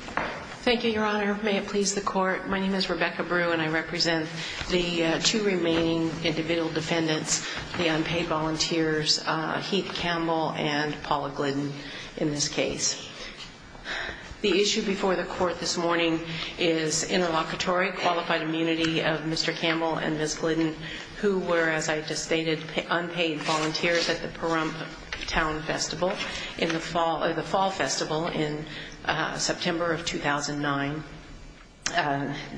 Thank you, Your Honor. May it please the court, my name is Rebecca Brew and I represent the two remaining individual defendants, the unpaid volunteers, Heath Campbell and Paula Glidden in this case. The issue before the court this morning is interlocutory qualified immunity of Mr. Campbell and Ms. Glidden who were, as I just stated, unpaid volunteers at the Pahrump Town Festival in the fall of the summer of 2009.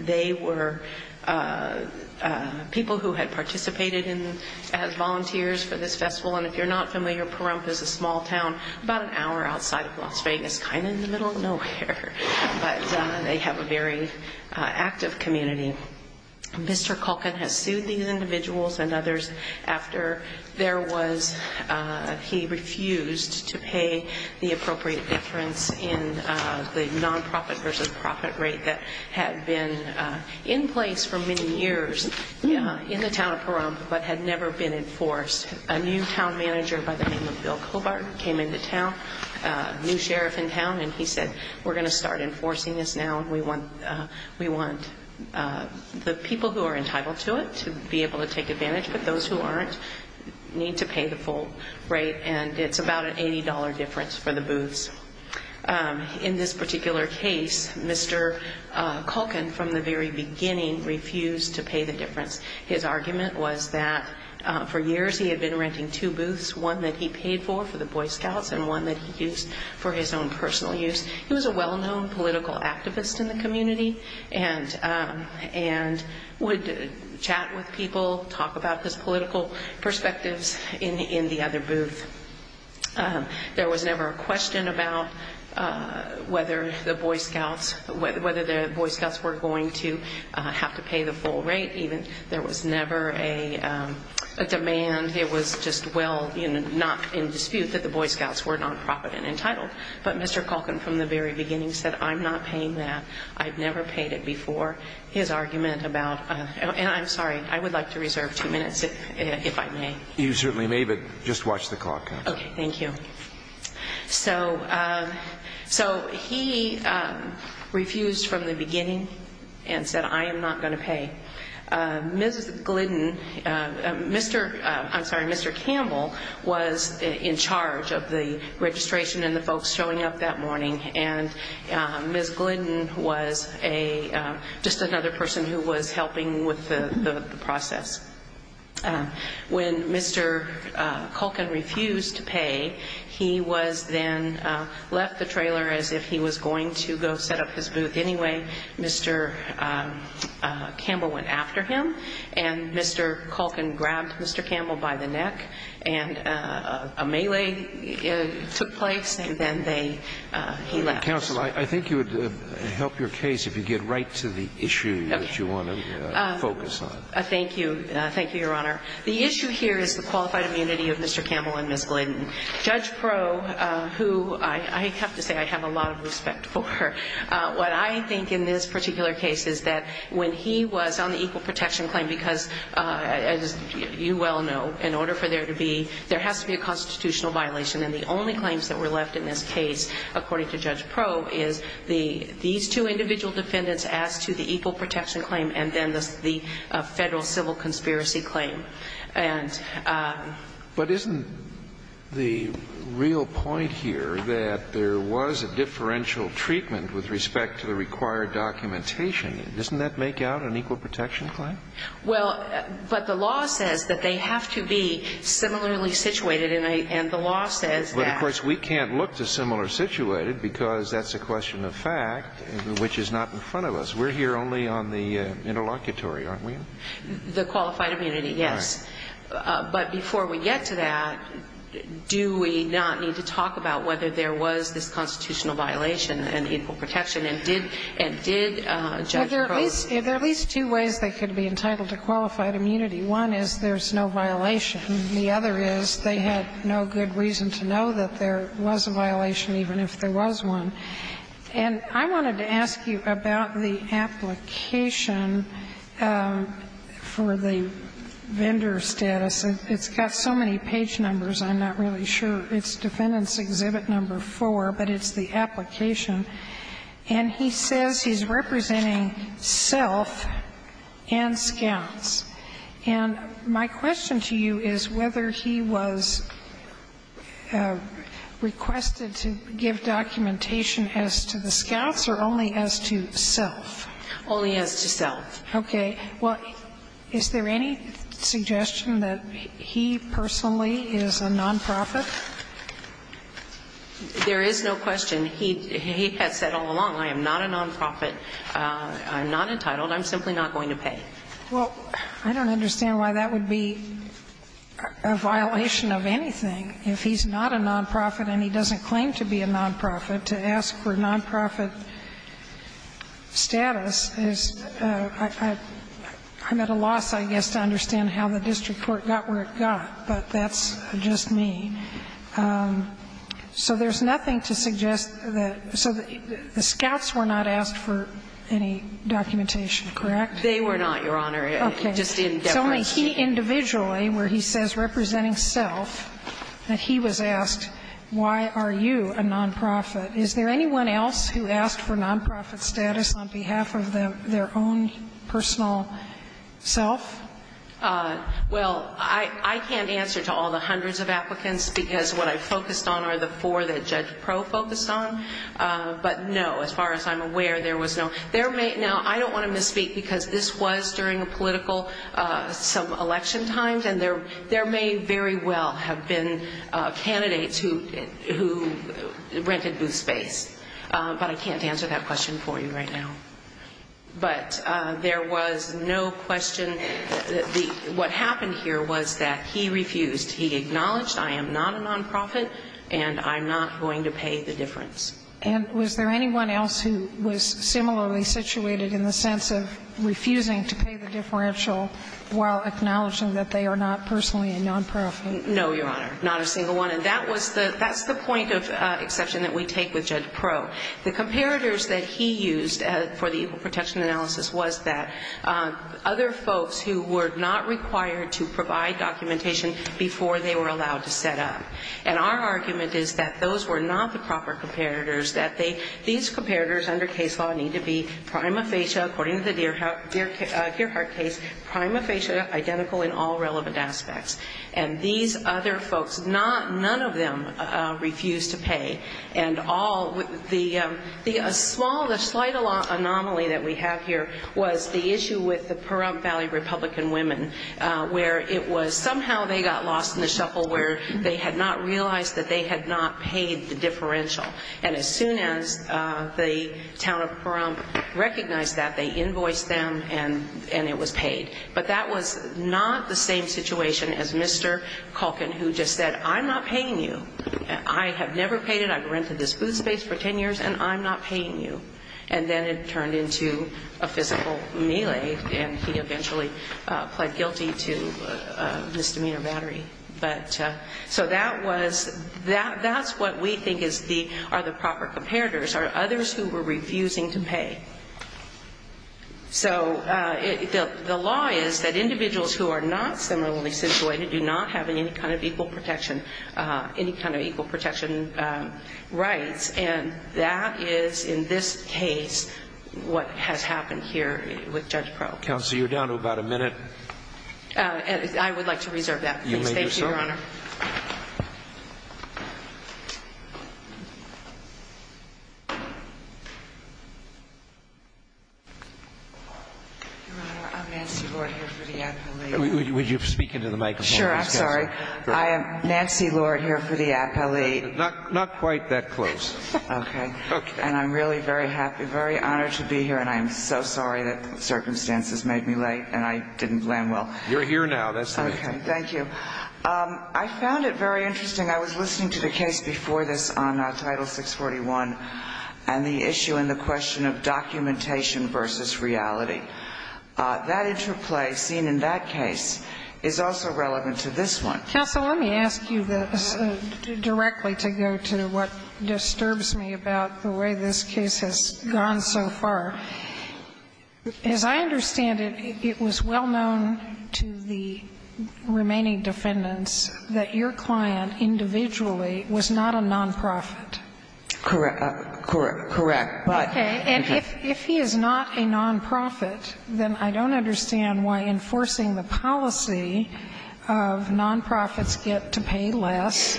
They were people who had participated as volunteers for this festival and if you're not familiar, Pahrump is a small town about an hour outside of Las Vegas, kind of in the middle of nowhere, but they have a very active community. Mr. Kulkin has sued these individuals and others after there to pay the appropriate deference in the non-profit versus profit rate that had been in place for many years in the town of Pahrump but had never been enforced. A new town manager by the name of Bill Cobart came into town, a new sheriff in town, and he said, we're going to start enforcing this now and we want the people who are entitled to it to be able to take advantage, but those who aren't need to pay the full rate and it's about an $80 difference for the booths. In this particular case, Mr. Kulkin from the very beginning refused to pay the difference. His argument was that for years he had been renting two booths, one that he paid for, for the Boy Scouts, and one that he used for his own personal use. He was a well-known political activist in the community and would chat with people, talk about his political perspectives in the other booth. There was never a question about whether the Boy Scouts were going to have to pay the full rate. There was never a demand. It was just well, not in dispute that the Boy Scouts were non-profit and entitled. But Mr. Kulkin from the very beginning said, I'm not paying that. I've never paid it before. His argument about, and I'm sorry, I would like to reserve two minutes if I may. You certainly may, but just watch the clock. Okay, thank you. So he refused from the beginning and said, I am not going to pay. Ms. Glidden, Mr., I'm sorry, Mr. Campbell was in charge of the registration and the folks showing up that morning, and Ms. Glidden was just another person who was helping with the process. When Mr. Kulkin refused to pay, he was then left the trailer as if he was going to go set up his booth anyway. Mr. Campbell went after him and Mr. Kulkin grabbed Mr. Campbell by the neck and a melee took place and then they, he left. Counsel, I think you would help your case if you get right to the issue that you want to focus on. Thank you. Thank you, Your Honor. The issue here is the qualified immunity of Mr. Campbell and Ms. Glidden. Judge Proe, who I have to say I have a lot of respect for, what I think in this particular case is that when he was on the equal protection claim, because as you well know, in order for there to be, there has to be a constitutional violation and the only claims that were left in this case, according to Judge Proe, is these two individual defendants as to the equal protection claim and then the Federal civil conspiracy claim. But isn't the real point here that there was a differential treatment with respect to the required documentation? Doesn't that make out an equal protection claim? Well, but the law says that they have to be similarly situated and the law says that But of course, we can't look to similar situated because that's a question of fact, which is not in front of us. We're here only on the interlocutory, aren't we? The qualified immunity, yes. But before we get to that, do we not need to talk about whether there was this constitutional violation and equal protection and did Judge Proe have to be entitled to qualified immunity? One is there's no violation. The other is they had no good reason to know that there was a violation, even if there was one. And I wanted to ask you about the application for the vendor status. It's got so many page numbers, I'm not really sure. It's Defendant's Exhibit No. 4, but it's the application. And he says he's representing self and self-representation of the scouts. And my question to you is whether he was requested to give documentation as to the scouts or only as to self. Only as to self. Okay. Well, is there any suggestion that he personally is a non-profit? There is no question. He has said all along, I am not a non-profit, I'm not entitled, I'm simply not going to pay. Well, I don't understand why that would be a violation of anything. If he's not a non-profit and he doesn't claim to be a non-profit, to ask for a non-profit status is, I'm at a loss, I guess, to understand how the district court got where it got, but that's just me. So there's nothing to suggest that the scouts were not asked for any documentation, correct? They were not, Your Honor. Okay. It just didn't define. It's only he individually, where he says representing self, that he was asked, why are you a non-profit? Is there anyone else who asked for non-profit status on behalf of their own personal self? Well, I can't answer to all the hundreds of applicants, because what I focused on are the four that Judge Pro focused on, but no, as far as I'm aware, there was no – there may – now, I don't want to misspeak, because this was during a political – some election times, and there may very well have been candidates who rented booth space, but I can't answer that question for you right now. But there was no question – what happened here was that he refused. He acknowledged, I am not a non-profit, and I'm not going to pay the difference. And was there anyone else who was similarly situated in the sense of refusing to pay the differential while acknowledging that they are not personally a non-profit? No, Your Honor. Not a single one. And that was the – that's the point of exception that we take with Judge Pro. The comparators that he used for the Evil Protection Analysis was that other folks who were not required to provide documentation before they were allowed to set up. And our argument is that those were not the proper comparators, that they – these comparators under case law need to be prima facie, according to the Gearhart case, prima facie, identical in all relevant aspects. And these other folks, not – none of them refused to pay. And all – the small – the slight anomaly that we have here was the issue with the Pahrump Valley Republican women, where it was somehow they got lost in the shuffle, where they had not realized that they had not paid the differential. And as soon as the town of Pahrump recognized that, they invoiced them, and it was paid. But that was not the same situation as Mr. Culkin, who just said, I'm not paying you. I have never paid it. I've rented this food space for 10 years, and I'm not paying you. And then it turned into a physical melee, and he eventually pled guilty to misdemeanor battery. So that was – that's what we think is the – are the proper comparators, are others who were refusing to pay. So the law is that individuals who are not similarly situated do not have any kind of equal protection – any kind of equal protection rights, and that is, in this case, what has happened here with Judge Propp. Counsel, you're down to about a minute. I would like to reserve that. You may do so. Thank you, Your Honor. Your Honor, I'm Nancy Lord here for the appellate. Will you speak into the microphone? Sure. I'm sorry. I am Nancy Lord here for the appellate. Not quite that close. Okay. And I'm really very happy, very honored to be here, and I'm so sorry that circumstances made me late and I didn't land well. You're here now. That's the reason. Okay. Thank you. I found it very interesting. I was listening to the case before this on Title 641 and the issue and the question of documentation versus reality. That interplay seen in that case is also relevant to this one. Counsel, let me ask you directly to go to what disturbs me about the way this case has gone so far. As I understand it, it was well known to the remaining defendants that your client individually was not a nonprofit. Correct. But – Okay. And if he is not a nonprofit, then I don't understand why enforcing the policy of nonprofits get to pay less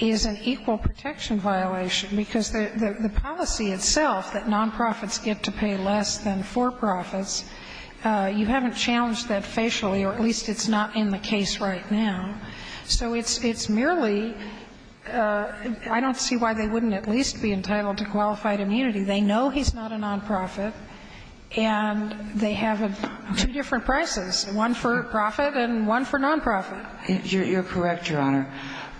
is an equal protection violation, because the policy itself, that nonprofits get to pay less than for-profits, you haven't challenged that facially, or at least it's not in the case right now. So it's merely – I don't see why they wouldn't at least be entitled to qualified immunity. They know he's not a nonprofit, and they have two different prices, one for-profit and one for-nonprofit. You're correct, Your Honor.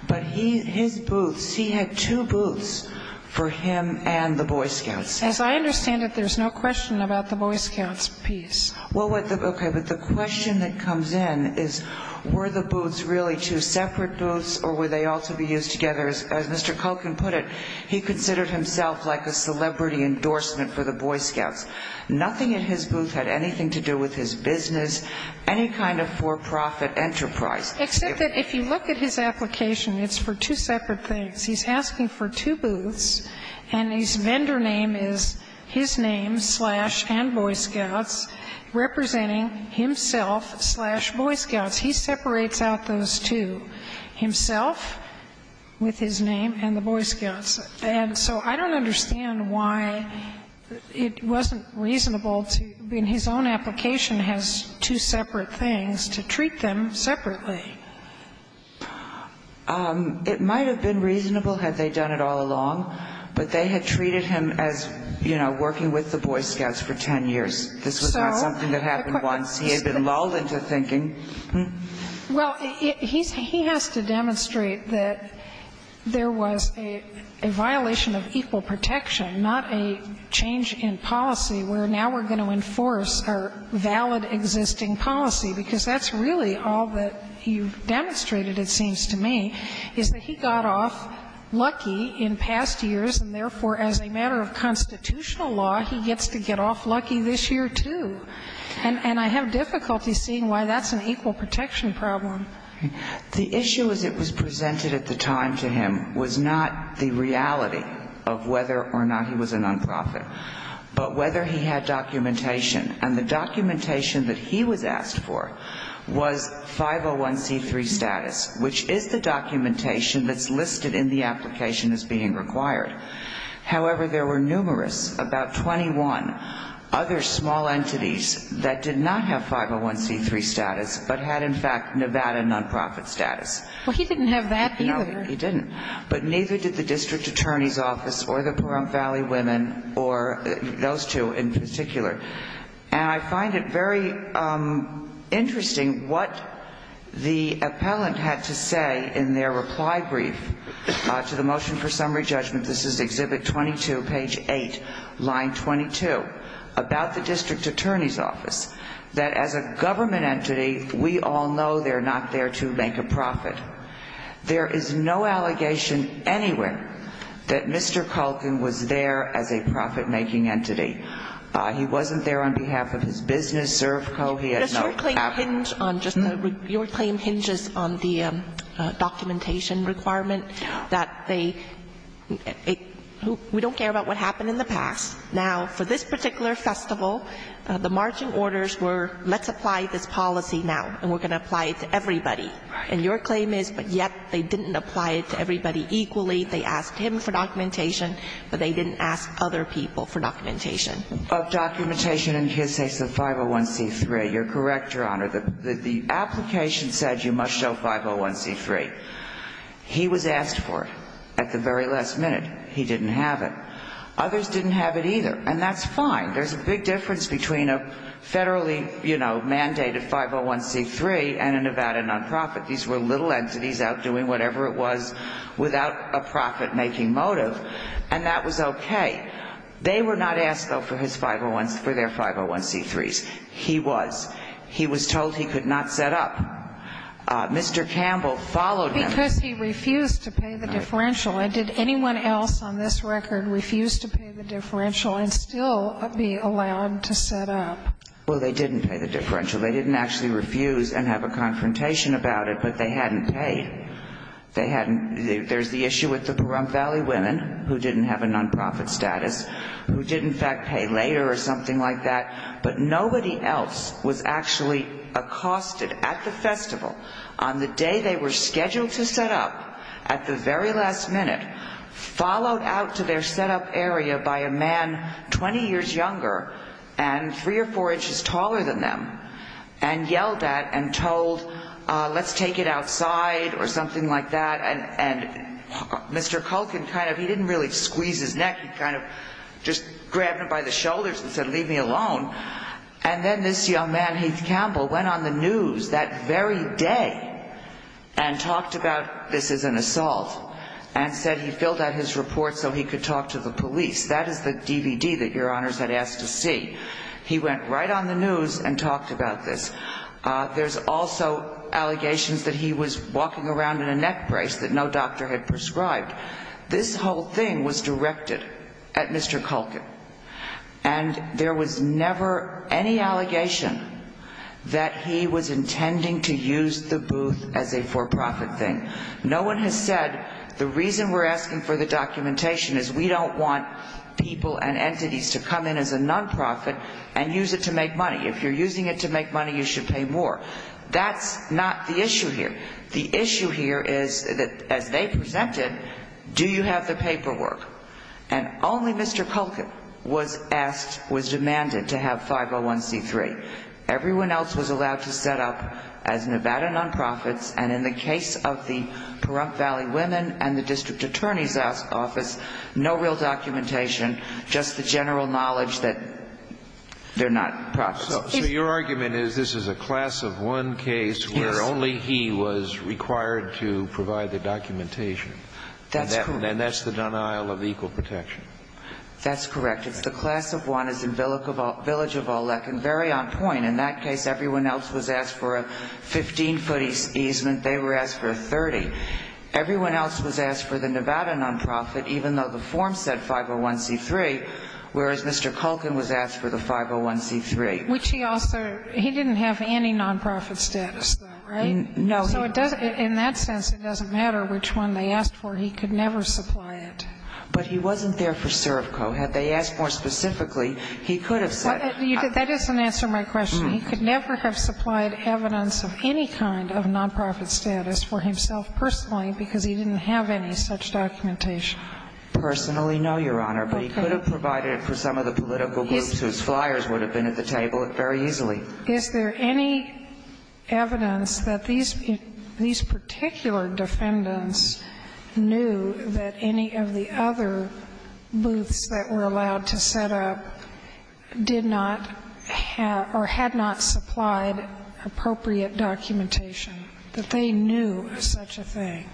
But his booths, he had two booths for him and the Boy Scouts. As I understand it, there's no question about the Boy Scouts piece. Well, okay, but the question that comes in is, were the booths really two separate booths, or were they all to be used together? As Mr. Culkin put it, he considered himself like a celebrity endorsement for the Boy Scouts. Nothing in his booth had anything to do with his business, any kind of for-profit enterprise. Except that if you look at his application, it's for two separate things. He's asking for two booths, and his vendor name is his name slash and Boy Scouts, representing himself slash Boy Scouts. He separates out those two, himself with his name and the Boy Scouts. And so I don't understand why it wasn't reasonable to, when his own application has two separate things, to treat them separately. It might have been reasonable had they done it all along, but they had treated him as, you know, working with the Boy Scouts for 10 years. This was not something that happened once. He had been lulled into thinking. Well, he has to demonstrate that there was a violation of equal protection, not a change in policy where now we're going to enforce our valid existing policy, because that's really all that you've demonstrated, it seems to me, is that he got off lucky in past years, and therefore, as a matter of constitutional law, he gets to get off lucky this year, too. And I have difficulty seeing why that's an equal protection problem. The issue as it was presented at the time to him was not the reality of whether or not he was a nonprofit, but whether he had documentation. And the documentation that he was asked for was 501c3 status, which is the documentation that's listed in the application as being that did not have 501c3 status, but had, in fact, Nevada nonprofit status. Well, he didn't have that, either. No, he didn't. But neither did the district attorney's office or the Pahrump Valley women or those two in particular. And I find it very interesting what the appellant had to say in their reply brief to the motion for summary judgment. This is Exhibit 22, page 8, line 22, about the district attorney's office, that as a government entity, we all know they're not there to make a profit. There is no allegation anywhere that Mr. Culkin was there as a profit-making entity. He wasn't there on behalf of his business, Servco. He had no ---- Your claim hinges on the documentation requirement that they ---- we don't care about what happened in the past. Now, for this particular festival, the marching orders were, let's apply this policy now, and we're going to apply it to everybody. And your claim is, but yet they didn't apply it to everybody equally. They asked him for documentation, but they didn't ask other people for documentation. Of documentation in his case, the 501c3. You're correct, Your Honor. The application said you must show 501c3. He was asked for it at the very last minute. He didn't have it. Others didn't have it either. And that's fine. There's a big difference between a federally, you know, mandated 501c3 and a Nevada nonprofit. These were little entities out doing whatever it was without a profit-making motive. And that was okay. They were not asked, though, for his 501s, for their 501c3s. He was. He was told he could not set up. Mr. Campbell followed them. Because he refused to pay the differential. And did anyone else on this record refuse to pay the differential and still be allowed to set up? Well, they didn't pay the differential. They didn't actually refuse and have a confrontation about it, but they hadn't paid. They hadn't. There's the issue with the Pahrump Valley women, who didn't have a nonprofit status, who did, in fact, pay later or something like that. But nobody else was actually accosted at the festival on the day they were scheduled to set up at the very last minute, followed out to their set-up area by a man 20 years younger and three or four inches taller than them, and yelled at and told, I'm not going to do this. Let's take it outside or something like that. And Mr. Culkin kind of, he didn't really squeeze his neck. He kind of just grabbed him by the shoulders and said, leave me alone. And then this young man, Heath Campbell, went on the news that very day and talked about this as an assault and said he filled out his report so he could talk to the police. That is the DVD that Your Honors had asked to see. He went right on the news and talked about this. There's also allegations that he was walking around in a neck brace that no doctor had prescribed. This whole thing was directed at Mr. Culkin. And there was never any allegation that he was intending to use the booth as a for-profit thing. No one has said the reason we're asking for the documentation is we don't want people and you should make money, you should pay more. That's not the issue here. The issue here is that as they presented, do you have the paperwork? And only Mr. Culkin was asked, was demanded to have 501C3. Everyone else was allowed to set up as Nevada non-profits, and in the case of the Pahrump Valley Women and the District Attorney's Office, no real documentation, just the general knowledge that they're not profits. So your argument is this is a class of one case where only he was required to provide the documentation. That's correct. And that's the denial of equal protection. That's correct. It's the class of one as in Village of Allek and very on point. In that case, everyone else was asked for a 15-foot easement, they were asked for a 30. Everyone else was asked for the Nevada non-profit, even though the form said 501C3, whereas Mr. Culkin was asked for a 30-foot easement. But he didn't have any non-profit status, though, right? No. So in that sense, it doesn't matter which one they asked for. He could never supply it. But he wasn't there for Servco. Had they asked more specifically, he could have said it. That doesn't answer my question. He could never have supplied evidence of any kind of non-profit status for himself personally because he didn't have any such documentation. Personally, no, Your Honor. Okay. But he could have provided it for some of the political groups whose flyers would have been at the table very easily. Is there any evidence that these particular defendants knew that any of the other booths that were allowed to set up did not have or had not supplied appropriate documentation, that they knew such a thing?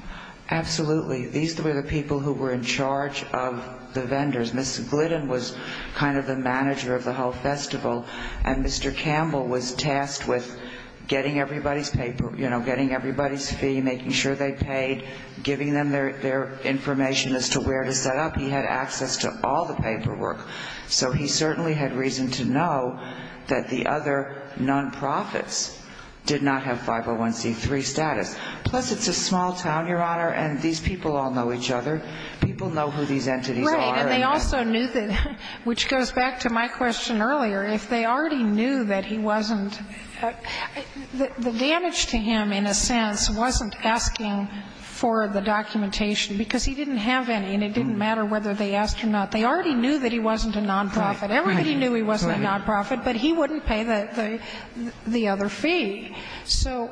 Absolutely. These were the people who were in charge of the vendors. Ms. Glidden was kind of the manager of the whole festival, and Mr. Campbell was tasked with getting everybody's fee, making sure they paid, giving them their information as to where to set up. He had access to all the paperwork. So he certainly had reason to know that the other non-profits did not have 501C3 status. Plus, it's a small town, Your Honor, and these people all know each other. People know who these entities are. Right. And they also knew that, which goes back to my question earlier, if they already knew that he wasn't the damage to him, in a sense, wasn't asking for the documentation because he didn't have any, and it didn't matter whether they asked him or not. They already knew that he wasn't a non-profit. Everybody knew he wasn't a non-profit, but he wouldn't pay the other fee. So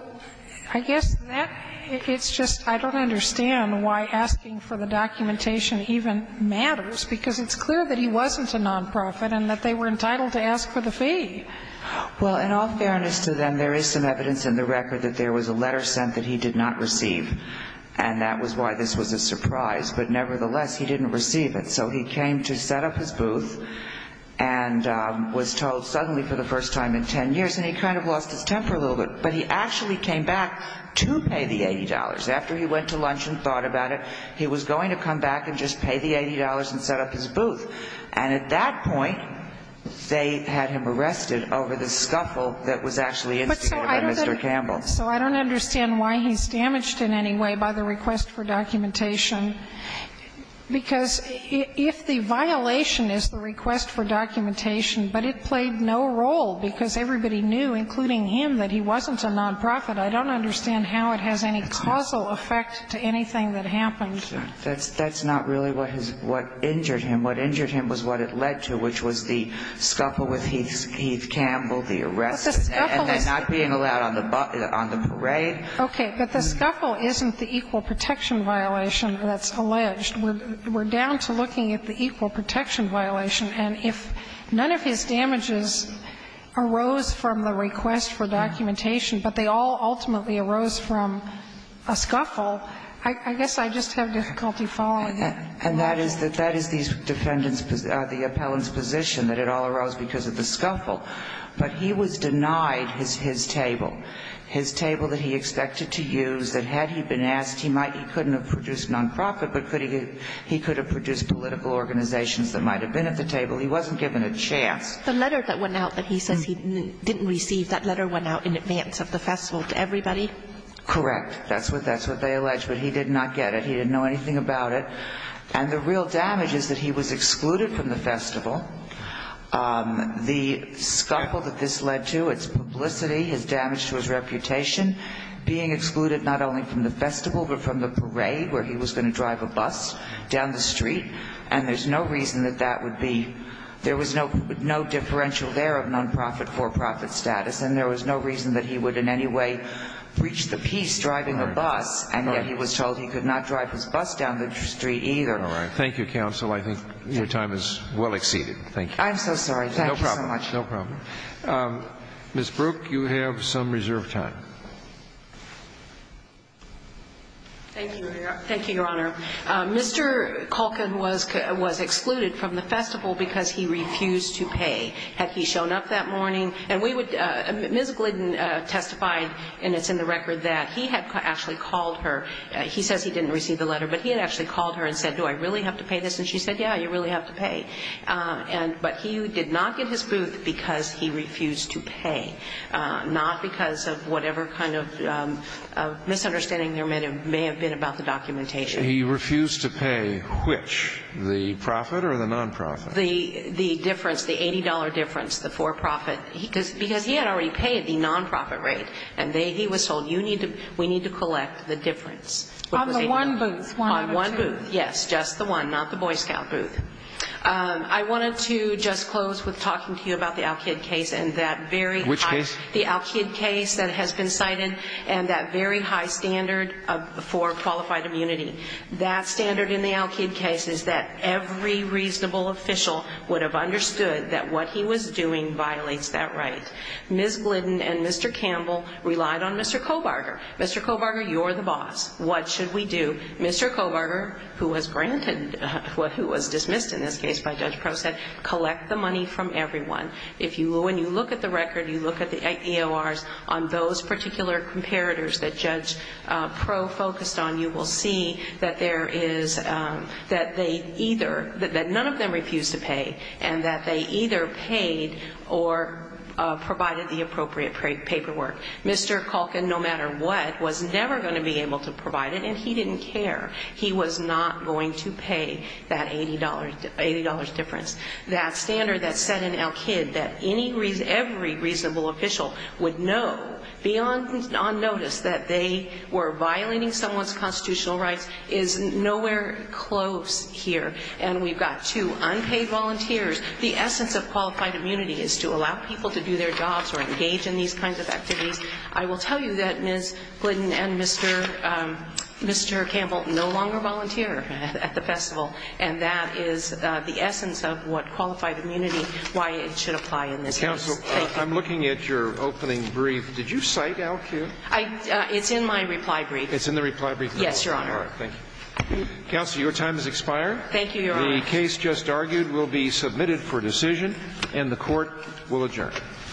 I guess that it's just I don't understand why asking for the documentation even matters, because it's clear that he wasn't a non-profit and that they were entitled to ask for the fee. Well, in all fairness to them, there is some evidence in the record that there was a letter sent that he did not receive, and that was why this was a surprise. But nevertheless, he didn't receive it. So he came to set up his booth and was told suddenly for the first time in ten years, and he kind of lost his temper a little bit. But he actually came back to pay the $80. After he went to lunch and thought about it, he was going to come back and just pay the $80 and set up his booth. And at that point, they had him arrested over the scuffle that was actually instigated by Mr. Campbell. But so I don't understand why he's damaged in any way by the request for documentation, because if the violation is the request for documentation, but it played no role because everybody knew, including him, that he wasn't a non-profit, I don't understand how it has any causal effect to anything that happened. That's not really what injured him. What injured him was what it led to, which was the scuffle with Heath Campbell, the arrest, and then not being allowed on the parade. Okay. But the scuffle isn't the equal protection violation that's alleged. We're down to looking at the equal protection violation. And if none of his damages arose from the request for documentation, but they all ultimately arose from a scuffle, I guess I just have difficulty following it. And that is the defendant's position, the appellant's position, that it all arose because of the scuffle. But he was denied his table, his table that he expected to use, that had he been asked, he couldn't have produced non-profit, but he could have produced political organizations that might have been at the table. He wasn't given a chance. The letter that went out that he says he didn't receive, that letter went out in advance of the festival to everybody? Correct. That's what they alleged. But he did not get it. He didn't know anything about it. And the real damage is that he was excluded from the festival. The scuffle that this led to, its publicity, his damage to his reputation, being excluded not only from the festival but from the parade where he was going to drive a bus down the street, and there's no reason that that would be – there was no differential there of non-profit, for-profit status, and there was no reason that he would in any way breach the peace driving a bus. And yet he was told he could not drive his bus down the street either. All right. Thank you, counsel. I think your time is well exceeded. Thank you. I'm so sorry. Thank you so much. No problem. No problem. Ms. Brooke, you have some reserved time. Thank you, Your Honor. Mr. Culkin was excluded from the festival because he refused to pay. Had he shown up that morning – and we would – Ms. Glidden testified, and it's in the record, that he had actually called her – he says he didn't receive the letter, but he had actually called her and said, do I really have to pay this? And she said, yeah, you really have to pay. And – but he did not get his booth because he refused to pay, not because of whatever kind of misunderstanding there may have been about the documentation. He refused to pay which? The profit or the non-profit? The difference, the $80 difference, the for-profit. Because he had already paid the non-profit rate. And they – he was told, you need to – we need to collect the difference. On the one booth, one of the two. On one booth, yes. Just the one, not the Boy Scout booth. I wanted to just close with talking to you about the Al-Kid case and that very high – Which case? The Al-Kid case that has been cited and that very high standard for qualified immunity. That standard in the Al-Kid case is that every reasonable official would have understood that what he was doing violates that right. Ms. Glidden and Mr. Campbell relied on Mr. Cobarger. Mr. Cobarger, you're the boss. What should we do? Mr. Cobarger, who was granted – who was dismissed in this case by Judge Proe, said collect the money from everyone. If you – when you look at the record, you look at the EORs on those particular comparators that Judge Proe focused on, you will see that there is – that they either – that none of them refused to pay and that they either paid or provided the appropriate paperwork. Mr. Culkin, no matter what, was never going to be able to provide it, and he didn't care. He was not going to pay that $80 difference. That standard that's set in Al-Kid that any – every reasonable official would know beyond on notice that they were violating someone's constitutional rights is nowhere close here. And we've got two unpaid volunteers. The essence of qualified immunity is to allow people to do their jobs or engage in these kinds of activities. I will tell you that Ms. Glidden and Mr. Campbell no longer volunteer at the festival, and that is the essence of what qualified immunity – why it should apply in this case. Thank you. I'm looking at your opening brief. Did you cite Al-Kid? I – it's in my reply brief. It's in the reply brief? Yes, Your Honor. All right. Thank you. Counsel, your time has expired. Thank you, Your Honor. The case just argued will be submitted for decision, and the Court will adjourn.